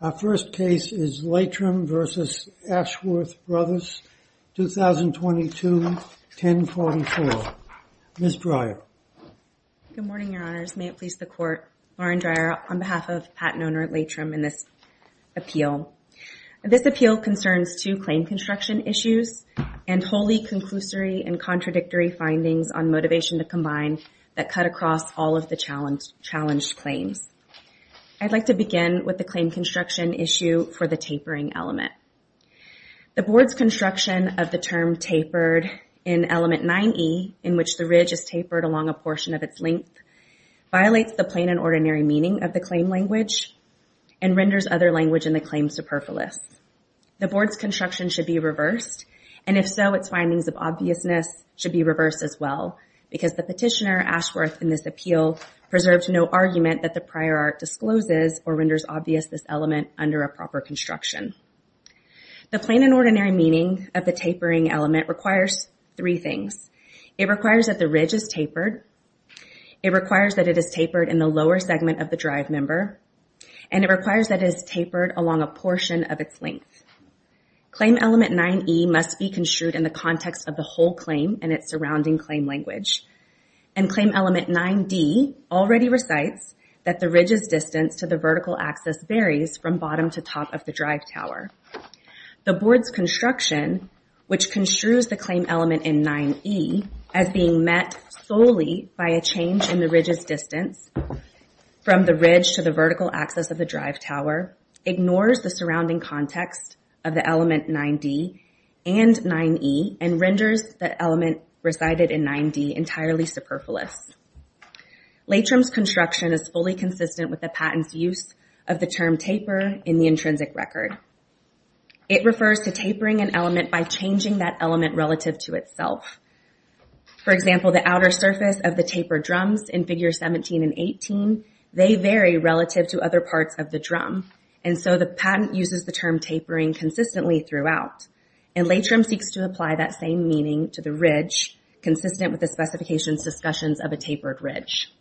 Our first case is Laitram v. Ashworth Bros., 2022, 1044. Ms. Dreyer. Good morning, your honors. May it please the court. Lauren Dreyer on behalf of patent owner Laitram in this appeal. This appeal concerns two claim construction issues and wholly conclusory and contradictory findings on motivation to combine that cut across all of the challenged claims. I'd like to begin with the claim construction issue for the tapering element. The board's construction of the term tapered in element 9E, in which the ridge is tapered along a portion of its length, violates the plain and ordinary meaning of the claim language and renders other language in the claim superfluous. The board's construction should be reversed and if so, its findings of obviousness should be reversed as well because the petitioner, Ashworth, in this appeal preserves no argument that the prior art discloses or renders obvious this element under a proper construction. The plain and ordinary meaning of the tapering element requires three things. It requires that the ridge is tapered. It requires that it is tapered in the lower segment of the drive member. And it requires that it is tapered along a portion of its length. Claim element 9E must be construed in the context of the whole claim and its surrounding claim language. And claim element 9D already recites that the ridge's distance to the vertical axis varies from bottom to top of the drive tower. The board's construction, which construes the claim element in 9E as being met solely by a change in the ridge's distance from the ridge to the vertical axis of the drive tower, ignores the surrounding context of the element 9D and 9E and renders the element resided in 9D entirely superfluous. Latrim's construction is fully consistent with the patent's use of the term taper in the intrinsic record. It refers to tapering an element by changing that element relative to itself. For example, the outer surface of the tapered drums in figures 17 and 18, they vary relative to other parts of the drum. And so the patent uses the term tapering consistently throughout. And Latrim seeks to apply that same meaning to the ridge consistent with the specification's discussions of a tapered ridge.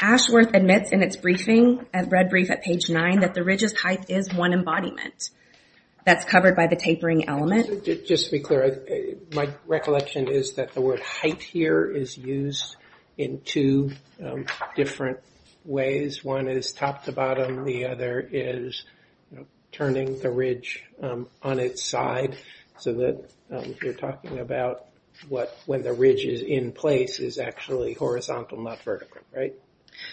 Ashworth admits in its briefing, a red brief at page nine, that the ridge's height is one embodiment that's covered by the tapering element. Just to be clear, my recollection is that the word height here is used in two different ways. One is top to bottom, the other is turning the ridge on its side. So that, you're talking about when the ridge is in place is actually horizontal, not vertical, right?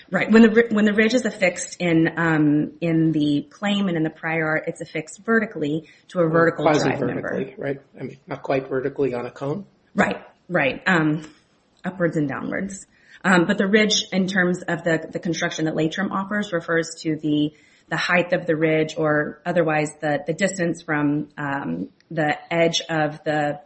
Right, when the ridge is affixed in the claim and in the prior art, it's affixed vertically to a vertical drive member. Right, I mean, not quite vertically on a cone? Right, right, upwards and downwards. But the ridge in terms of the construction that Latrim offers refers to the height of the ridge or otherwise the distance from the edge of the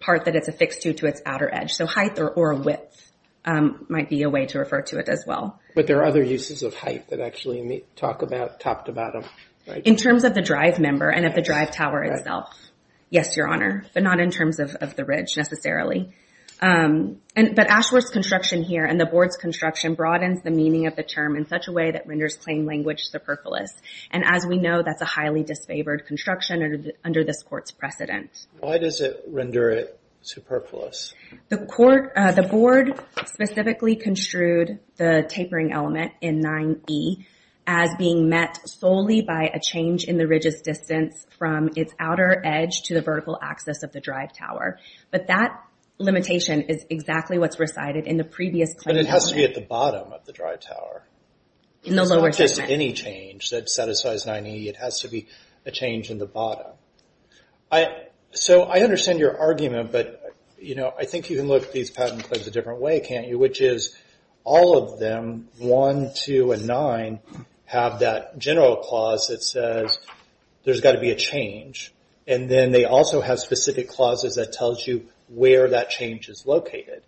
part that it's affixed to to its outer edge. So height or width might be a way to refer to it as well. But there are other uses of height that actually talk about top to bottom, right? In terms of the drive member and of the drive tower itself. Yes, your honor, but not in terms of the ridge necessarily. But Ashworth's construction here and the board's construction broadens the meaning of the term in such a way that renders claim language superfluous. And as we know, that's a highly disfavored construction under this court's precedent. Why does it render it superfluous? The board specifically construed the tapering element in 9E as being met solely by a change in the ridge's distance from its outer edge to the vertical axis of the drive tower. But that limitation is exactly what's recited in the previous claim. But it has to be at the bottom of the drive tower. In the lower segment. It's not just any change that satisfies 9E. It has to be a change in the bottom. So I understand your argument, but I think you can look at these patent claims a different way, can't you? Which is, all of them, one, two, and nine, have that general clause that says there's gotta be a change. And then they also have specific clauses that tells you where that change is located.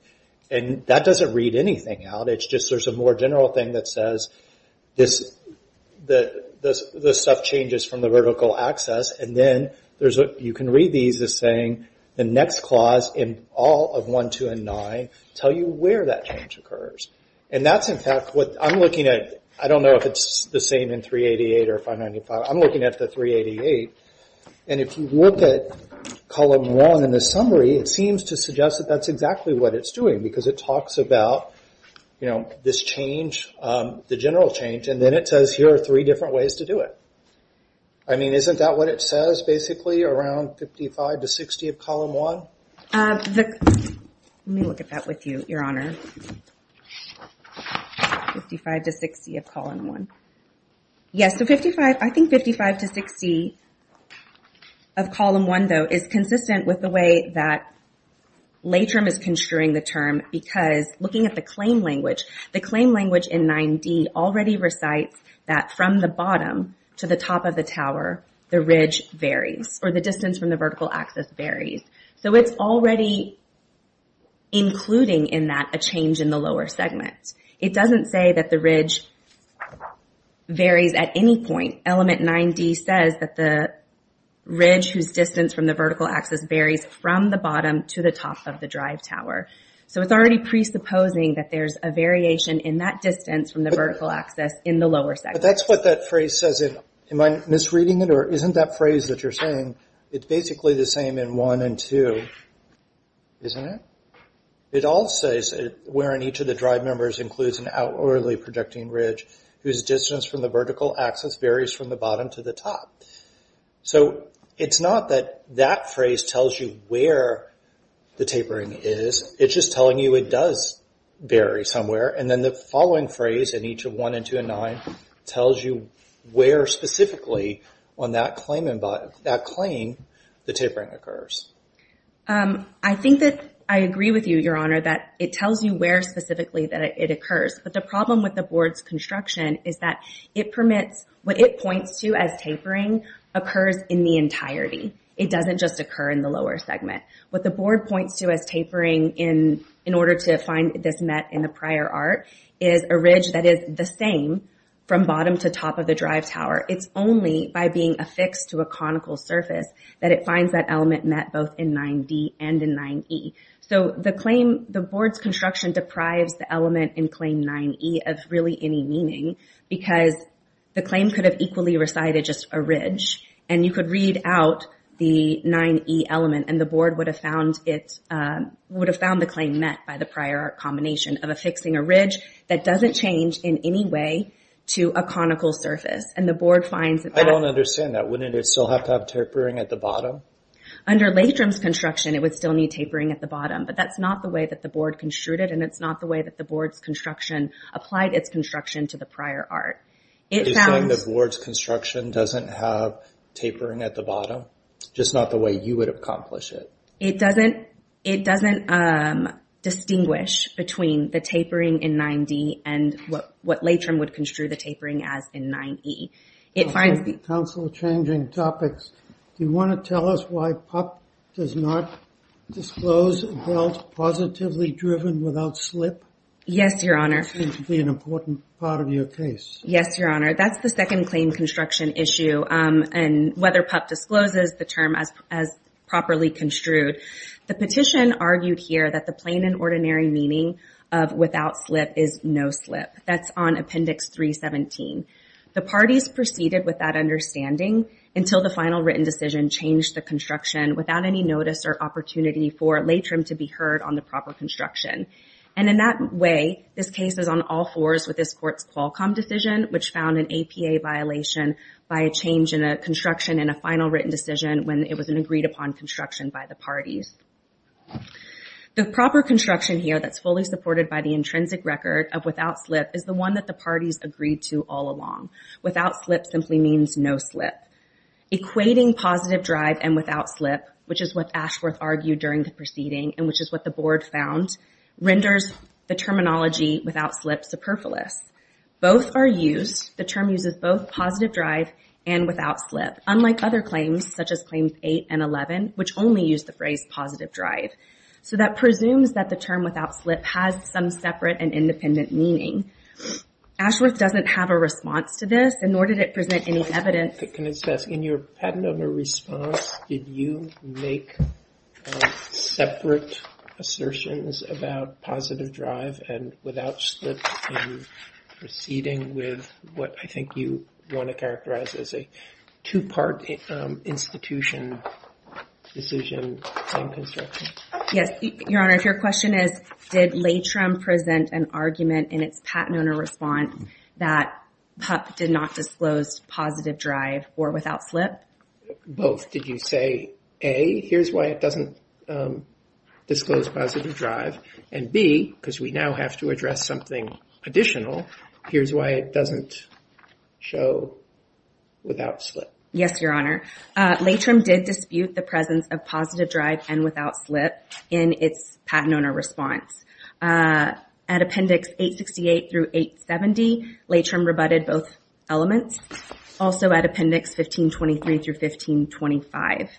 And that doesn't read anything out. It's just there's a more general thing that says this stuff changes from the vertical axis. And then, you can read these as saying the next clause in all of one, two, and nine tell you where that change occurs. And that's, in fact, what I'm looking at. I don't know if it's the same in 388 or 595. I'm looking at the 388. And if you look at column one in the summary, it seems to suggest that that's exactly what it's doing. Because it talks about this change, the general change, and then it says here are three different ways to do it. I mean, isn't that what it says, basically, around 55 to 60 of column one? Let me look at that with you, your honor. 55 to 60 of column one. Yes, so 55, I think 55 to 60 of column one, though, is consistent with the way that LATRM is construing the term because, looking at the claim language, the claim language in 9D already recites that from the bottom to the top of the tower, the ridge varies, or the distance from the vertical axis varies. So it's already including in that a change in the lower segment. It doesn't say that the ridge varies at any point. Element 9D says that the ridge whose distance from the vertical axis varies from the bottom to the top of the drive tower. So it's already presupposing that there's a variation in that distance from the vertical axis in the lower segment. But that's what that phrase says. Am I misreading it, or isn't that phrase that you're saying, it's basically the same in one and two, isn't it? It all says, wherein each of the drive members includes an outwardly projecting ridge whose distance from the vertical axis varies from the bottom to the top. So it's not that that phrase tells you where the tapering is, it's just telling you it does vary somewhere, and then the following phrase in each of one and two and nine tells you where specifically on that claim the tapering occurs. I think that I agree with you, Your Honor, that it tells you where specifically that it occurs. But the problem with the board's construction is that it permits, what it points to as tapering occurs in the entirety. It doesn't just occur in the lower segment. What the board points to as tapering in order to find this met in the prior art is a ridge that is the same from bottom to top of the drive tower. It's only by being affixed to a conical surface that it finds that element met both in 9D and in 9E. So the claim, the board's construction deprives the element in claim 9E of really any meaning because the claim could have equally recited just a ridge, and you could read out the 9E element, and the board would have found the claim met by the prior art combination of affixing a ridge that doesn't change in any way to a conical surface, and the board finds that that. I don't understand that. Wouldn't it still have to have tapering at the bottom? Under Latrum's construction, it would still need tapering at the bottom, but that's not the way that the board construed it, and it's not the way that the board's construction applied its construction to the prior art. It found- You're saying the board's construction doesn't have tapering at the bottom? Just not the way you would accomplish it? It doesn't distinguish between the tapering in 9D and what Latrum would construe the tapering as in 9E. It finds the- Counselor changing topics. Do you want to tell us why PUP does not disclose a belt positively driven without slip? Yes, Your Honor. That seems to be an important part of your case. That's the second claim construction issue, and whether PUP discloses the term as properly construed. The petition argued here that the plain and ordinary meaning of without slip is no slip. That's on Appendix 317. The parties proceeded with that understanding until the final written decision changed the construction without any notice or opportunity for Latrum to be heard on the proper construction, and in that way, this case is on all fours with this court's Qualcomm decision, which found an APA violation by a change in a construction in a final written decision when it was an agreed upon construction by the parties. The proper construction here that's fully supported by the intrinsic record of without slip is the one that the parties agreed to all along. Without slip simply means no slip. Equating positive drive and without slip, which is what Ashworth argued during the proceeding, and which is what the board found, renders the terminology without slip superfluous. Both are used. The term uses both positive drive and without slip, unlike other claims, such as Claims 8 and 11, which only use the phrase positive drive. So that presumes that the term without slip has some separate and independent meaning. Ashworth doesn't have a response to this, and nor did it present any evidence. Can I just ask, in your patent owner response, did you make separate assertions about positive drive and without slip in proceeding with what I think you want to characterize as a two-part institution decision on construction? Yes, Your Honor, if your question is, did LATRM present an argument in its patent owner response that PUP did not disclose positive drive or without slip? Both. Did you say A, here's why it doesn't disclose positive drive and B, because we now have to address something additional, here's why it doesn't show without slip? Yes, Your Honor. LATRM did dispute the presence of positive drive and without slip in its patent owner response. At Appendix 868 through 870, LATRM rebutted both elements. Also at Appendix 1523 through 1525.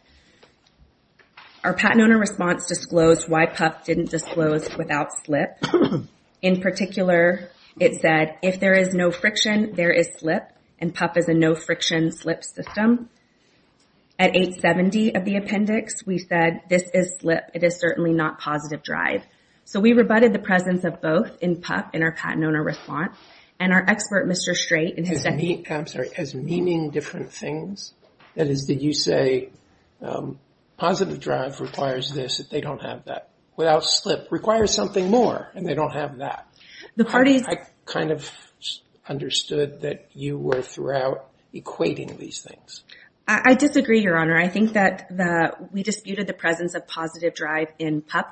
Our patent owner response disclosed why PUP didn't disclose without slip. In particular, it said, if there is no friction, there is slip, and PUP is a no-friction slip system. At 870 of the appendix, we said, this is slip, it is certainly not positive drive. So we rebutted the presence of both in PUP in our patent owner response, and our expert, Mr. Strait, I'm sorry, as meaning different things? That is, did you say positive drive requires this, that they don't have that? Without slip, requires something more, and they don't have that. The parties- I kind of understood that you were throughout equating these things. I disagree, Your Honor. I think that we disputed the presence of positive drive in the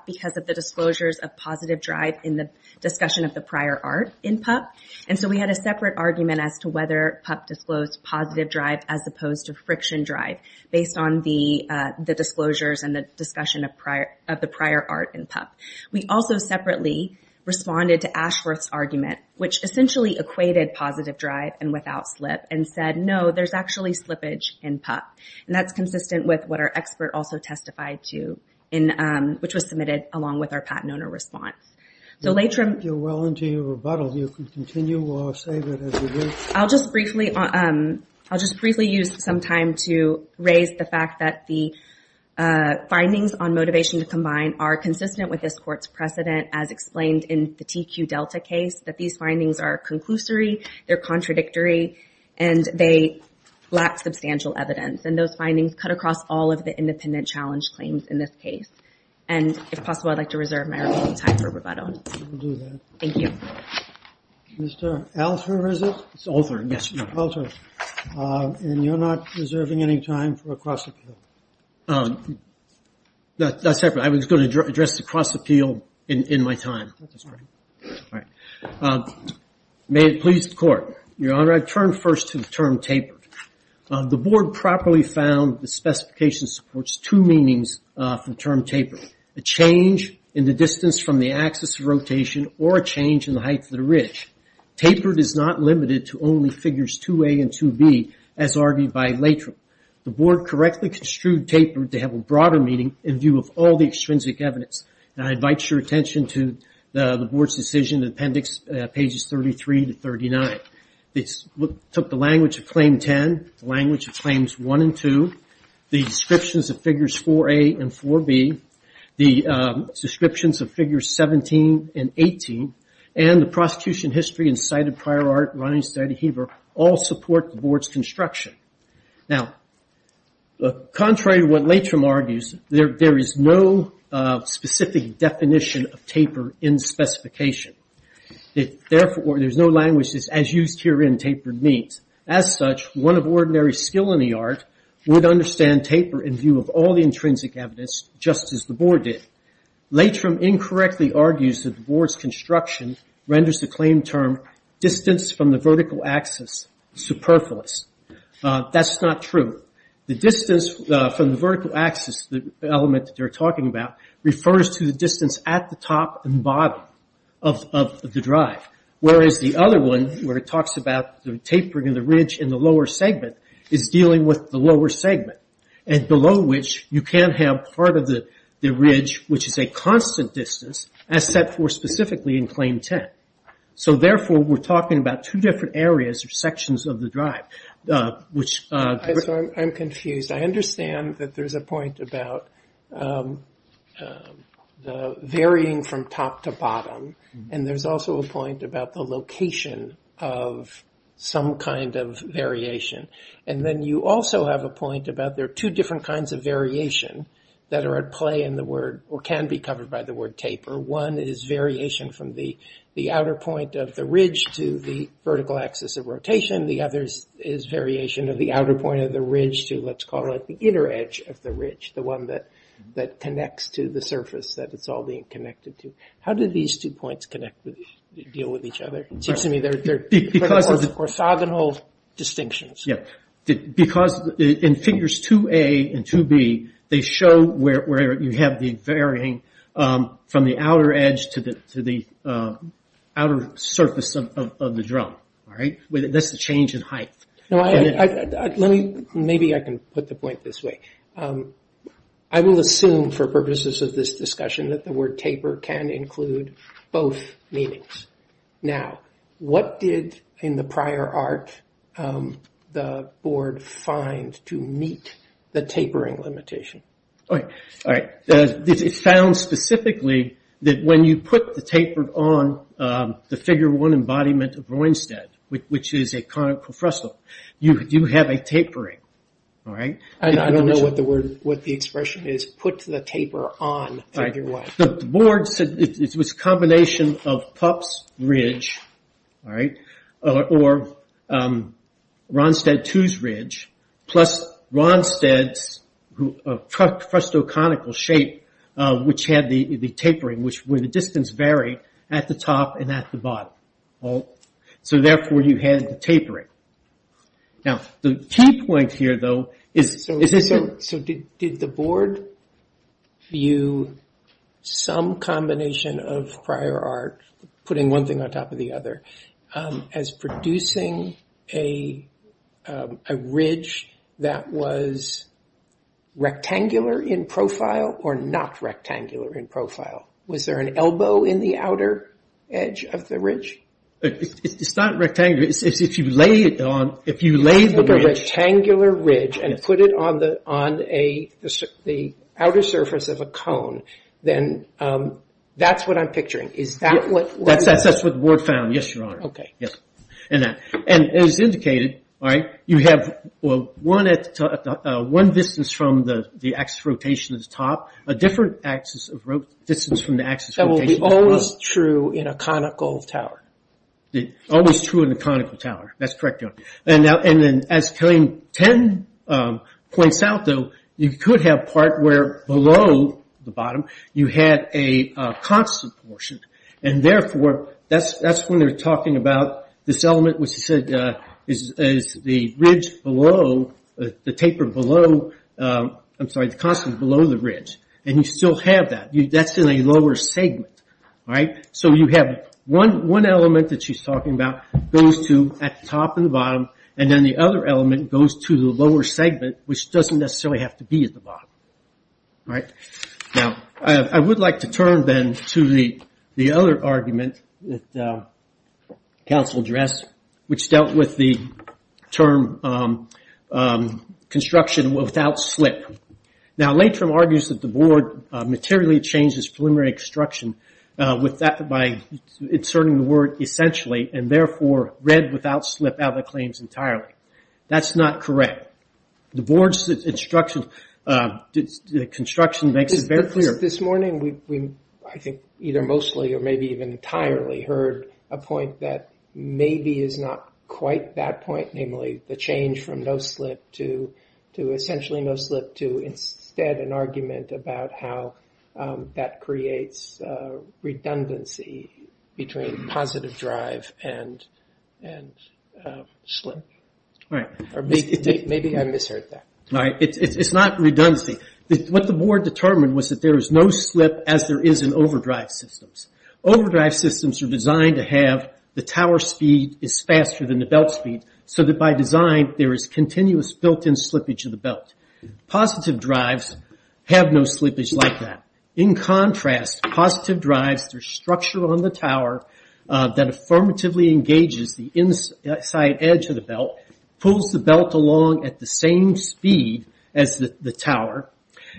discussion of the prior art in PUP. And so we had a separate argument as to whether PUP disclosed positive drive as opposed to friction drive, based on the disclosures and the discussion of the prior art in PUP. We also separately responded to Ashworth's argument, which essentially equated positive drive and without slip, and said, no, there's actually slippage in PUP. And that's consistent with what our expert also testified to, which was submitted along with our patent owner response. So later on- I think you're well into your rebuttal. You can continue or save it as it is. I'll just briefly use some time to raise the fact that the findings on motivation to combine are consistent with this court's precedent, as explained in the TQ Delta case, that these findings are conclusory, they're contradictory, and they lack substantial evidence. And those findings cut across all of the independent challenge claims in this case. And if possible, I'd like to reserve my remaining time for rebuttal. We'll do that. Thank you. Mr. Alter, is it? It's Alter, yes. Alter, and you're not reserving any time for a cross-appeal. Not separately. I was going to address the cross-appeal in my time. That's all right. All right. May it please the court. Your Honor, I've turned first to the term tapered. The board properly found the specification supports two meanings for the term tapered. A change in the distance from the axis of rotation, or a change in the height of the ridge. Tapered is not limited to only figures 2A and 2B, as argued by Latrim. The board correctly construed tapered to have a broader meaning in view of all the extrinsic evidence. And I invite your attention to the board's decision in appendix pages 33 to 39. This took the language of claim 10, the language of claims one and two, the descriptions of figures 4A and 4B, the descriptions of figures 17 and 18, and the prosecution history and cited prior art running inside of Heber, all support the board's construction. Now, contrary to what Latrim argues, there is no specific definition of taper in specification. Therefore, there's no languages as used here in tapered means. As such, one of ordinary skill in the art would understand taper in view of all the intrinsic evidence just as the board did. Latrim incorrectly argues that the board's construction renders the claim term distance from the vertical axis superfluous. That's not true. The distance from the vertical axis, the element that they're talking about, refers to the distance at the top and bottom of the drive. Whereas the other one, where it talks about the tapering of the ridge in the lower segment, is dealing with the lower segment, and below which you can't have part of the ridge, which is a constant distance, as set for specifically in claim 10. So therefore, we're talking about two different areas or sections of the drive, which... I'm confused. I understand that there's a point about the varying from top to bottom, and there's also a point about the location of some kind of variation. And then you also have a point about there are two different kinds of variation that are at play in the word, or can be covered by the word taper. One is variation from the outer point of the ridge to the vertical axis of rotation. The other is variation of the outer point of the ridge to let's call it the inner edge of the ridge, the one that connects to the surface that it's all being connected to. How do these two points deal with each other? It seems to me they're... Because of the... Corsogonal distinctions. Yeah. Because in figures 2A and 2B, they show where you have the varying from the outer edge to the outer surface of the drum, all right? That's the change in height. No, let me... Maybe I can put the point this way. I will assume for purposes of this discussion that the word taper can include both meanings. Now, what did, in the prior art, the board find to meet the tapering limitation? All right, it's found specifically that when you put the taper on the figure one embodiment of Ruinstead, which is a conical frestle, you have a tapering, all right? I don't know what the expression is. Put the taper on figure one. The board said it was a combination of Pup's ridge, all right, or Ruinstead 2's ridge, plus Ruinstead's fresto conical shape, which had the tapering, which where the distance varied at the top and at the bottom, all right? So therefore, you had the tapering. Now, the key point here, though, is this... So did the board view some combination of prior art putting one thing on top of the other as producing a ridge that was rectangular in profile or not rectangular in profile? Was there an elbow in the outer edge of the ridge? It's not rectangular. If you lay it on, if you lay the ridge... the outer surface of a cone, then that's what I'm picturing. Is that what... That's what the board found. Yes, Your Honor. Okay. Yes. And as indicated, all right, you have one distance from the axis of rotation at the top, a different axis of distance from the axis of rotation... That will be always true in a conical tower. Always true in a conical tower. That's correct, Your Honor. And then as Kelley 10 points out, though, you could have part where below the bottom you had a constant portion. And therefore, that's when they're talking about this element which is the ridge below, the taper below, I'm sorry, the constant below the ridge. And you still have that. That's in a lower segment, all right? So you have one element that she's talking about goes to at the top and the bottom, and then the other element goes to the lower segment, which doesn't necessarily have to be at the bottom, right? Now, I would like to turn then to the other argument that counsel addressed, which dealt with the term construction without slip. Now, Latrum argues that the board materially changes preliminary construction by inserting the word essentially, and therefore read without slip out of the claims entirely. That's not correct. The board's construction makes it very clear. This morning, I think either mostly or maybe even entirely heard a point that maybe is not quite that point, namely the change from no slip to essentially no slip to instead an argument about how that creates redundancy between positive drive and slip. All right. Maybe I misheard that. All right, it's not redundancy. What the board determined was that there is no slip as there is in overdrive systems. Overdrive systems are designed to have the tower speed is faster than the belt speed so that by design, there is continuous built-in slippage of the belt. Positive drives have no slippage like that. In contrast, positive drives, there's structure on the tower that affirmatively engages the inside edge of the belt, pulls the belt along at the same speed as the tower,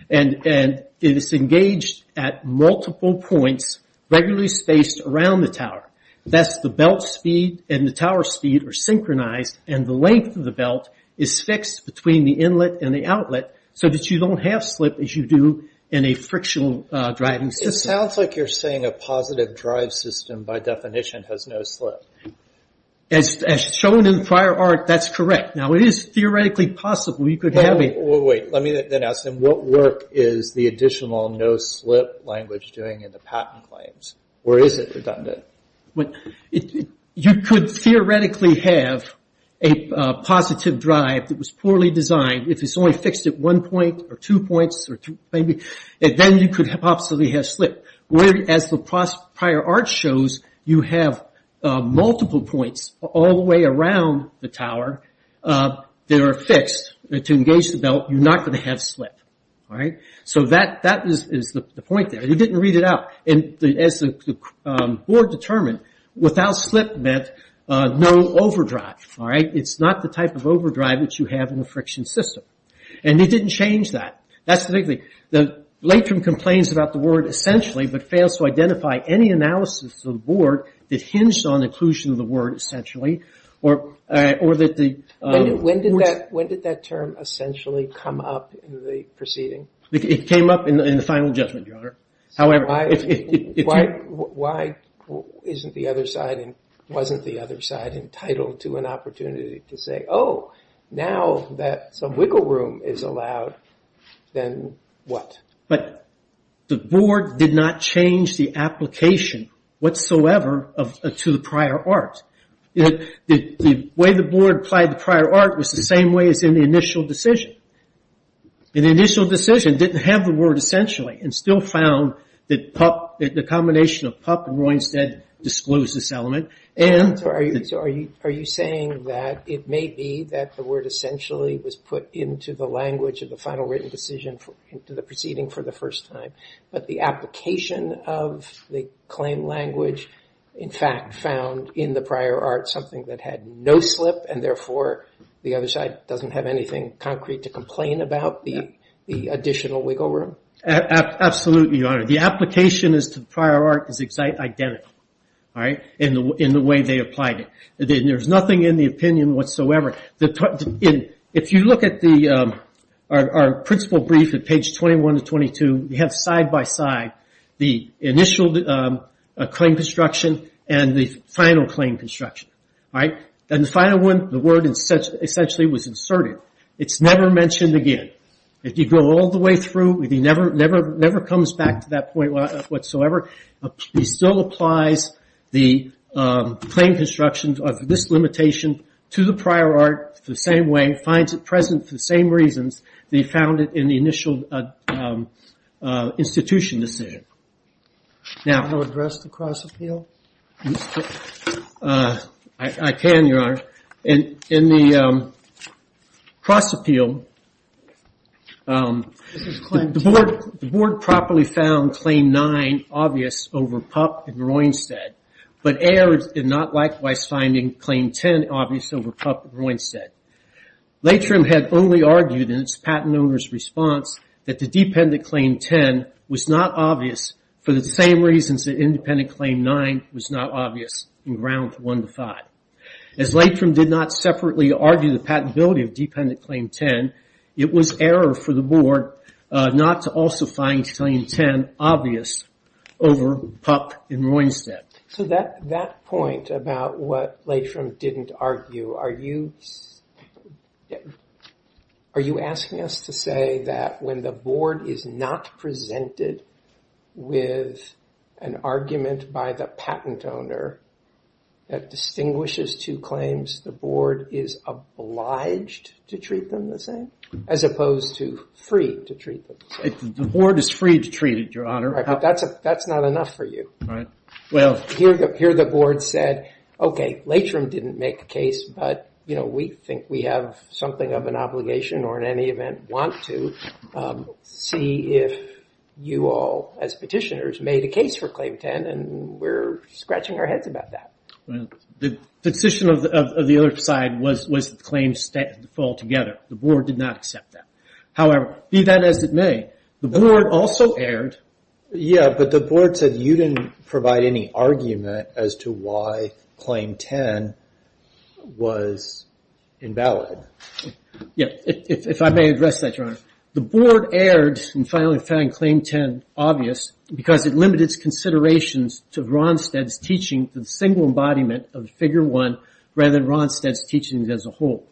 and it is engaged at multiple points regularly spaced around the tower. Thus, the belt speed and the tower speed are synchronized and the length of the belt is fixed between the inlet and the outlet so that you don't have slip as you do in a frictional driving system. It sounds like you're saying a positive drive system by definition has no slip. As shown in prior art, that's correct. Now, it is theoretically possible you could have a- Well, wait, let me then ask them what work is the additional no slip language doing in the patent claims? Or is it redundant? You could theoretically have a positive drive that was poorly designed if it's only fixed at one point or two points maybe, and then you could possibly have slip. Where as the prior art shows, you have multiple points all the way around the tower that are fixed to engage the belt, you're not gonna have slip, all right? So that is the point there. You didn't read it out. And as the board determined, without slip meant no overdrive, all right? It's not the type of overdrive that you have in a friction system. And they didn't change that. That's the big thing. The late term complains about the word essentially, but fails to identify any analysis of the board that hinged on inclusion of the word essentially, or that the- When did that term essentially come up in the proceeding? It came up in the final judgment, Your Honor. However, if you- Why isn't the other side and wasn't the other side entitled to an opportunity to say, oh, now that some wiggle room is allowed, then what? But the board did not change the application whatsoever to the prior art. The way the board applied the prior art was the same way as in the initial decision. In the initial decision, didn't have the word essentially, and still found that the combination of Pup and Roy instead disclosed this element. So are you saying that it may be that the word essentially was put into the language of the final written decision into the proceeding for the first time, but the application of the claim language, in fact, found in the prior art something that had no slip, and therefore the other side doesn't have anything concrete to complain about, the additional wiggle room? Absolutely, Your Honor. The application as to the prior art is identical, all right? In the way they applied it. There's nothing in the opinion whatsoever. If you look at our principal brief at page 21 to 22, we have side by side the initial claim construction and the final claim construction, all right? And the final one, the word essentially was inserted. It's never mentioned again. If you go all the way through, it never comes back to that point whatsoever. It still applies the claim construction of this limitation to the prior art the same way, finds it present for the same reasons they found it in the initial institution decision. Now- Can you address the cross appeal? I can, Your Honor. In the cross appeal, the board properly found claim nine obvious over Pupp and Roynstedt, but A.R. did not likewise find claim 10 obvious over Pupp and Roynstedt. Latrim had only argued in its patent owner's response that the dependent claim 10 was not obvious for the same reasons that independent claim nine was not obvious in ground one to five. As Latrim did not separately argue the patentability of dependent claim 10, it was error for the board not to also find claim 10 obvious over Pupp and Roynstedt. So that point about what Latrim didn't argue, are you asking us to say that when the board is not presented with an argument by the patent owner that distinguishes two claims, the board is obliged to treat them the same as opposed to free to treat them the same? The board is free to treat it, Your Honor. That's not enough for you. Well- Here the board said, okay, Latrim didn't make a case, but we think we have something of an obligation or in any event want to see if you all, as petitioners, made a case for claim 10 and we're scratching our heads about that. The position of the other side was that the claims fall together. The board did not accept that. However, be that as it may, the board also erred. Yeah, but the board said you didn't provide any argument as to why claim 10 was invalid. Yeah, if I may address that, Your Honor. The board erred in finally finding claim 10 obvious because it limited its considerations to Ronstadt's teaching, the single embodiment of the figure one rather than Ronstadt's teachings as a whole.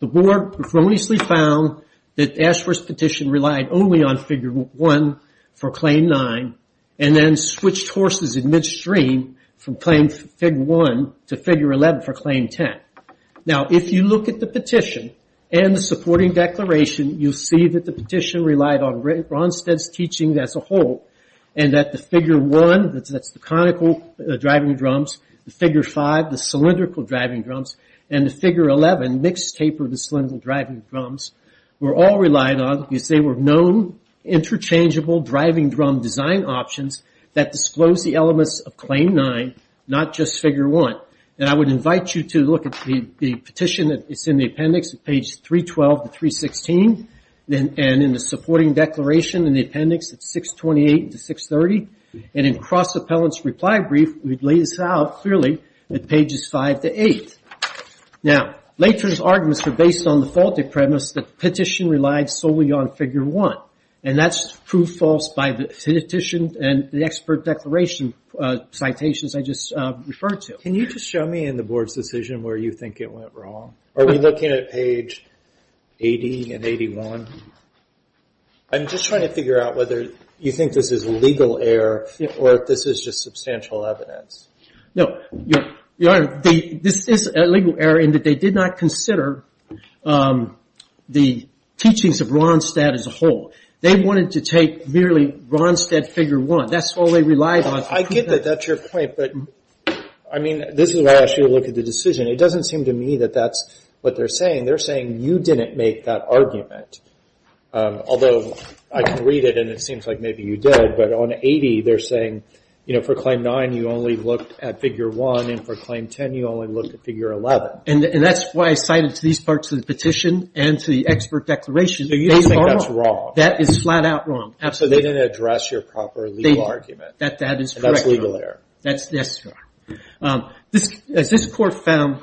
The board erroneously found that Ashworth's petition relied only on figure one for claim nine and then switched horses in midstream from claim figure one to figure 11 for claim 10. Now, if you look at the petition and the supporting declaration, you'll see that the petition relied on Ronstadt's teaching as a whole and that the figure one, that's the conical driving drums, the figure five, the cylindrical driving drums, and the figure 11, mixed tapered and cylindrical driving drums, were all relied on because they were known interchangeable driving drum design options that disclosed the elements of claim nine, not just figure one. And I would invite you to look at the petition that is in the appendix at page 312 to 316 and in the supporting declaration in the appendix at 628 to 630. And in Cross Appellant's reply brief, we've laid this out clearly at pages five to eight. Now, Later's arguments are based on the faulted premise that the petition relied solely on figure one. And that's proved false by the petition and the expert declaration citations I just referred to. Can you just show me in the board's decision where you think it went wrong? Are we looking at page 80 and 81? I'm just trying to figure out whether you think this is legal error or if this is just substantial evidence. No, Your Honor, this is a legal error in that they did not consider the teachings of Ronstadt as a whole. They wanted to take merely Ronstadt figure one. That's all they relied on. I get that, that's your point, but I mean, this is why I asked you to look at the decision. It doesn't seem to me that that's what they're saying. They're saying you didn't make that argument. Although I can read it and it seems like maybe you did, but on 80, they're saying for claim nine, you only looked at figure one, and for claim 10, you only looked at figure 11. And that's why I cited these parts of the petition and to the expert declaration. So you don't think that's wrong? That is flat out wrong, absolutely. So they didn't address your proper legal argument. That is correct, Your Honor. And that's legal error. That's, yes, Your Honor. As this court found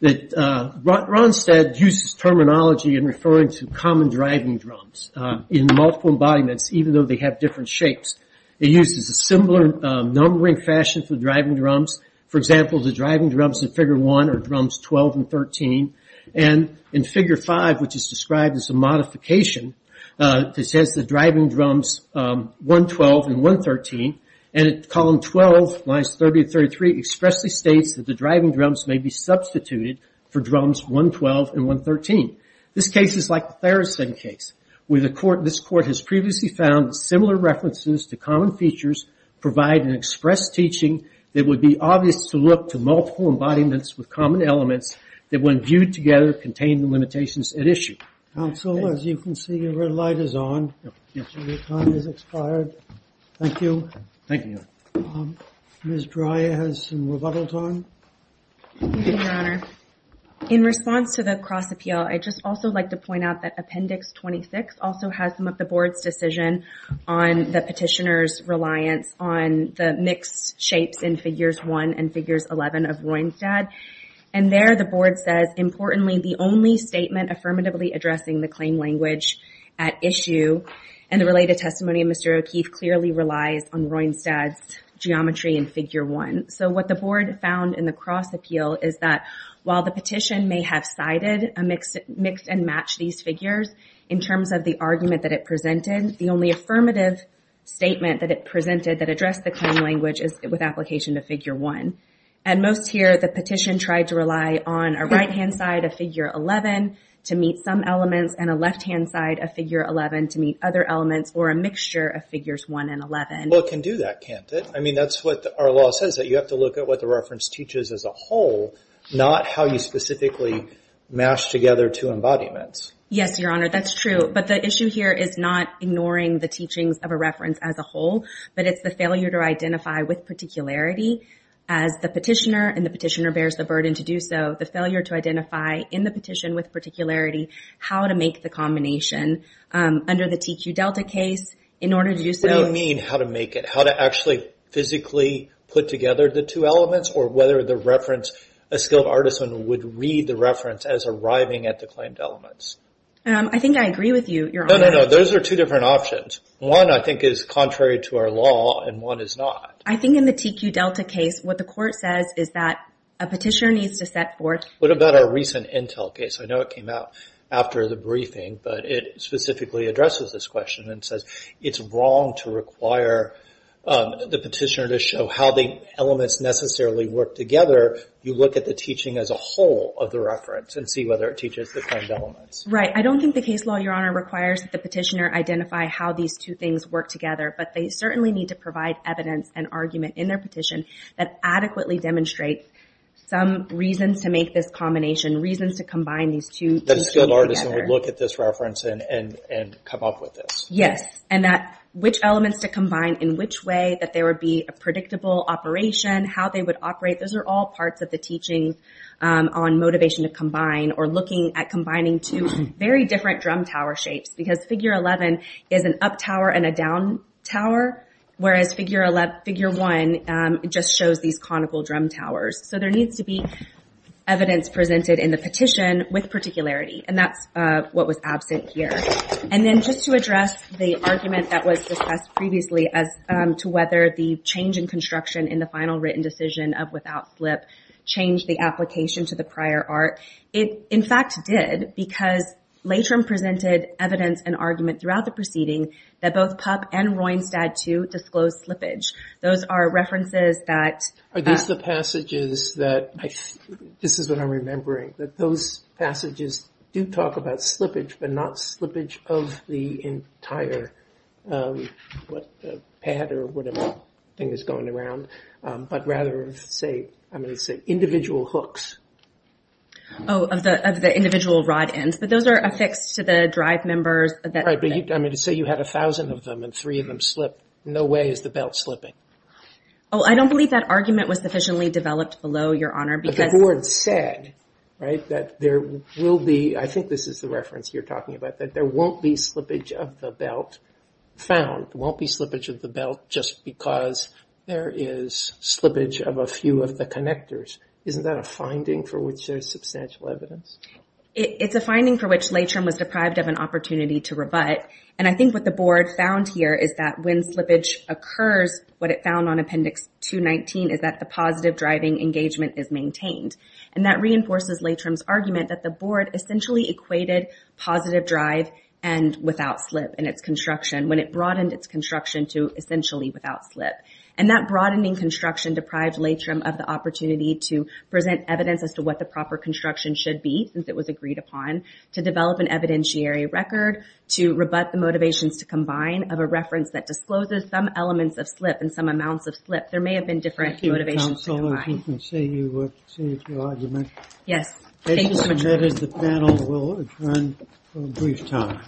that Ronstadt uses terminology in referring to common driving drums in multiple embodiments, even though they have different shapes. It uses a similar numbering fashion for driving drums. For example, the driving drums in figure one are drums 12 and 13. And in figure five, which is described as a modification, this has the driving drums 112 and 113, and in column 12, lines 30 and 33, expressly states that the driving drums may be substituted for drums 112 and 113. This case is like the Theresen case, where this court has previously found similar references to common features provide an express teaching that would be obvious to look to multiple embodiments with common elements that when viewed together contain the limitations at issue. Counsel, as you can see, your red light is on. Your time has expired. Thank you. Thank you. Ms. Dreyer has some rebuttal time. Thank you, Your Honor. In response to the cross appeal, I'd just also like to point out that Appendix 26 also has some of the board's decision on the petitioner's reliance on the mixed shapes in figures one and figures 11 of Ronstadt. And there, the board says, importantly, the only statement affirmatively addressing the claim language at issue and the related testimony of Mr. O'Keefe clearly relies on Ronstadt's geometry in figure one. So what the board found in the cross appeal is that while the petition may have cited a mix and match these figures in terms of the argument that it presented, the only affirmative statement that it presented that addressed the claim language is with application to figure one. At most here, the petition tried to rely on a right-hand side of figure 11 to meet some elements and a left-hand side of figure 11 to meet other elements or a mixture of figures one and 11. Well, it can do that, can't it? I mean, that's what our law says, that you have to look at what the reference teaches as a whole, not how you specifically mash together two embodiments. Yes, Your Honor, that's true. But the issue here is not ignoring the teachings of a reference as a whole, but it's the failure to identify with particularity as the petitioner and the petitioner bears the burden to do so, the failure to identify in the petition with particularity how to make the combination under the TQ Delta case in order to do so. What do you mean how to make it? How to actually physically put together the two elements or whether the reference, a skilled artisan would read the reference as arriving at the claimed elements? I think I agree with you, Your Honor. No, no, no, those are two different options. One, I think, is contrary to our law and one is not. I think in the TQ Delta case, what the court says is that a petitioner needs to set forth. What about our recent Intel case? I know it came out after the briefing, but it specifically addresses this question and says it's wrong to require the petitioner to show how the elements necessarily work together. You look at the teaching as a whole of the reference and see whether it teaches the claimed elements. Right, I don't think the case law, Your Honor, requires that the petitioner identify how these two things work together, but they certainly need to provide evidence and argument in their petition that adequately demonstrates some reasons to make this combination, reasons to combine these two teachings together. So, a good artist would look at this reference and come up with this. Yes, and which elements to combine, in which way that there would be a predictable operation, how they would operate, those are all parts of the teaching on motivation to combine or looking at combining two very different drum tower shapes, because figure 11 is an up tower and a down tower, whereas figure one just shows these conical drum towers. So, there needs to be evidence presented in the petition with particularity, and that's what was absent here. And then, just to address the argument that was discussed previously as to whether the change in construction in the final written decision of without slip changed the application to the prior art. It, in fact, did, because Latrum presented evidence and argument throughout the proceeding that both Pupp and Rheinstadt, too, disclosed slippage. Those are references that- Are these the passages that, this is what I'm remembering, that those passages do talk about slippage, but not slippage of the entire, what, pad or whatever thing is going around, but rather of, say, I'm gonna say individual hooks. Oh, of the individual rod ends, but those are affixed to the drive members that- Right, but I'm gonna say you had 1,000 of them and three of them slipped. No way is the belt slipping. Oh, I don't believe that argument was sufficiently developed below, Your Honor, because- But the board said, right, that there will be, I think this is the reference you're talking about, that there won't be slippage of the belt found, won't be slippage of the belt just because there is slippage of a few of the connectors. Isn't that a finding for which there's substantial evidence? It's a finding for which Latrum was deprived of an opportunity to rebut, and I think what the board found here is that when slippage occurs, what it found on Appendix 219 is that the positive driving engagement is maintained, and that reinforces Latrum's argument that the board essentially equated positive drive and without slip in its construction when it broadened its construction to essentially without slip, and that broadening construction deprived Latrum of the opportunity to present evidence as to what the proper construction should be, since it was agreed upon, to develop an evidentiary record, to rebut the motivations to combine of a reference that discloses some elements of slip and some amounts of slip. There may have been different motivations to combine. Thank you, counsel, if you can say your argument. Yes, thank you so much. As you submitted, the panel will adjourn for a brief time.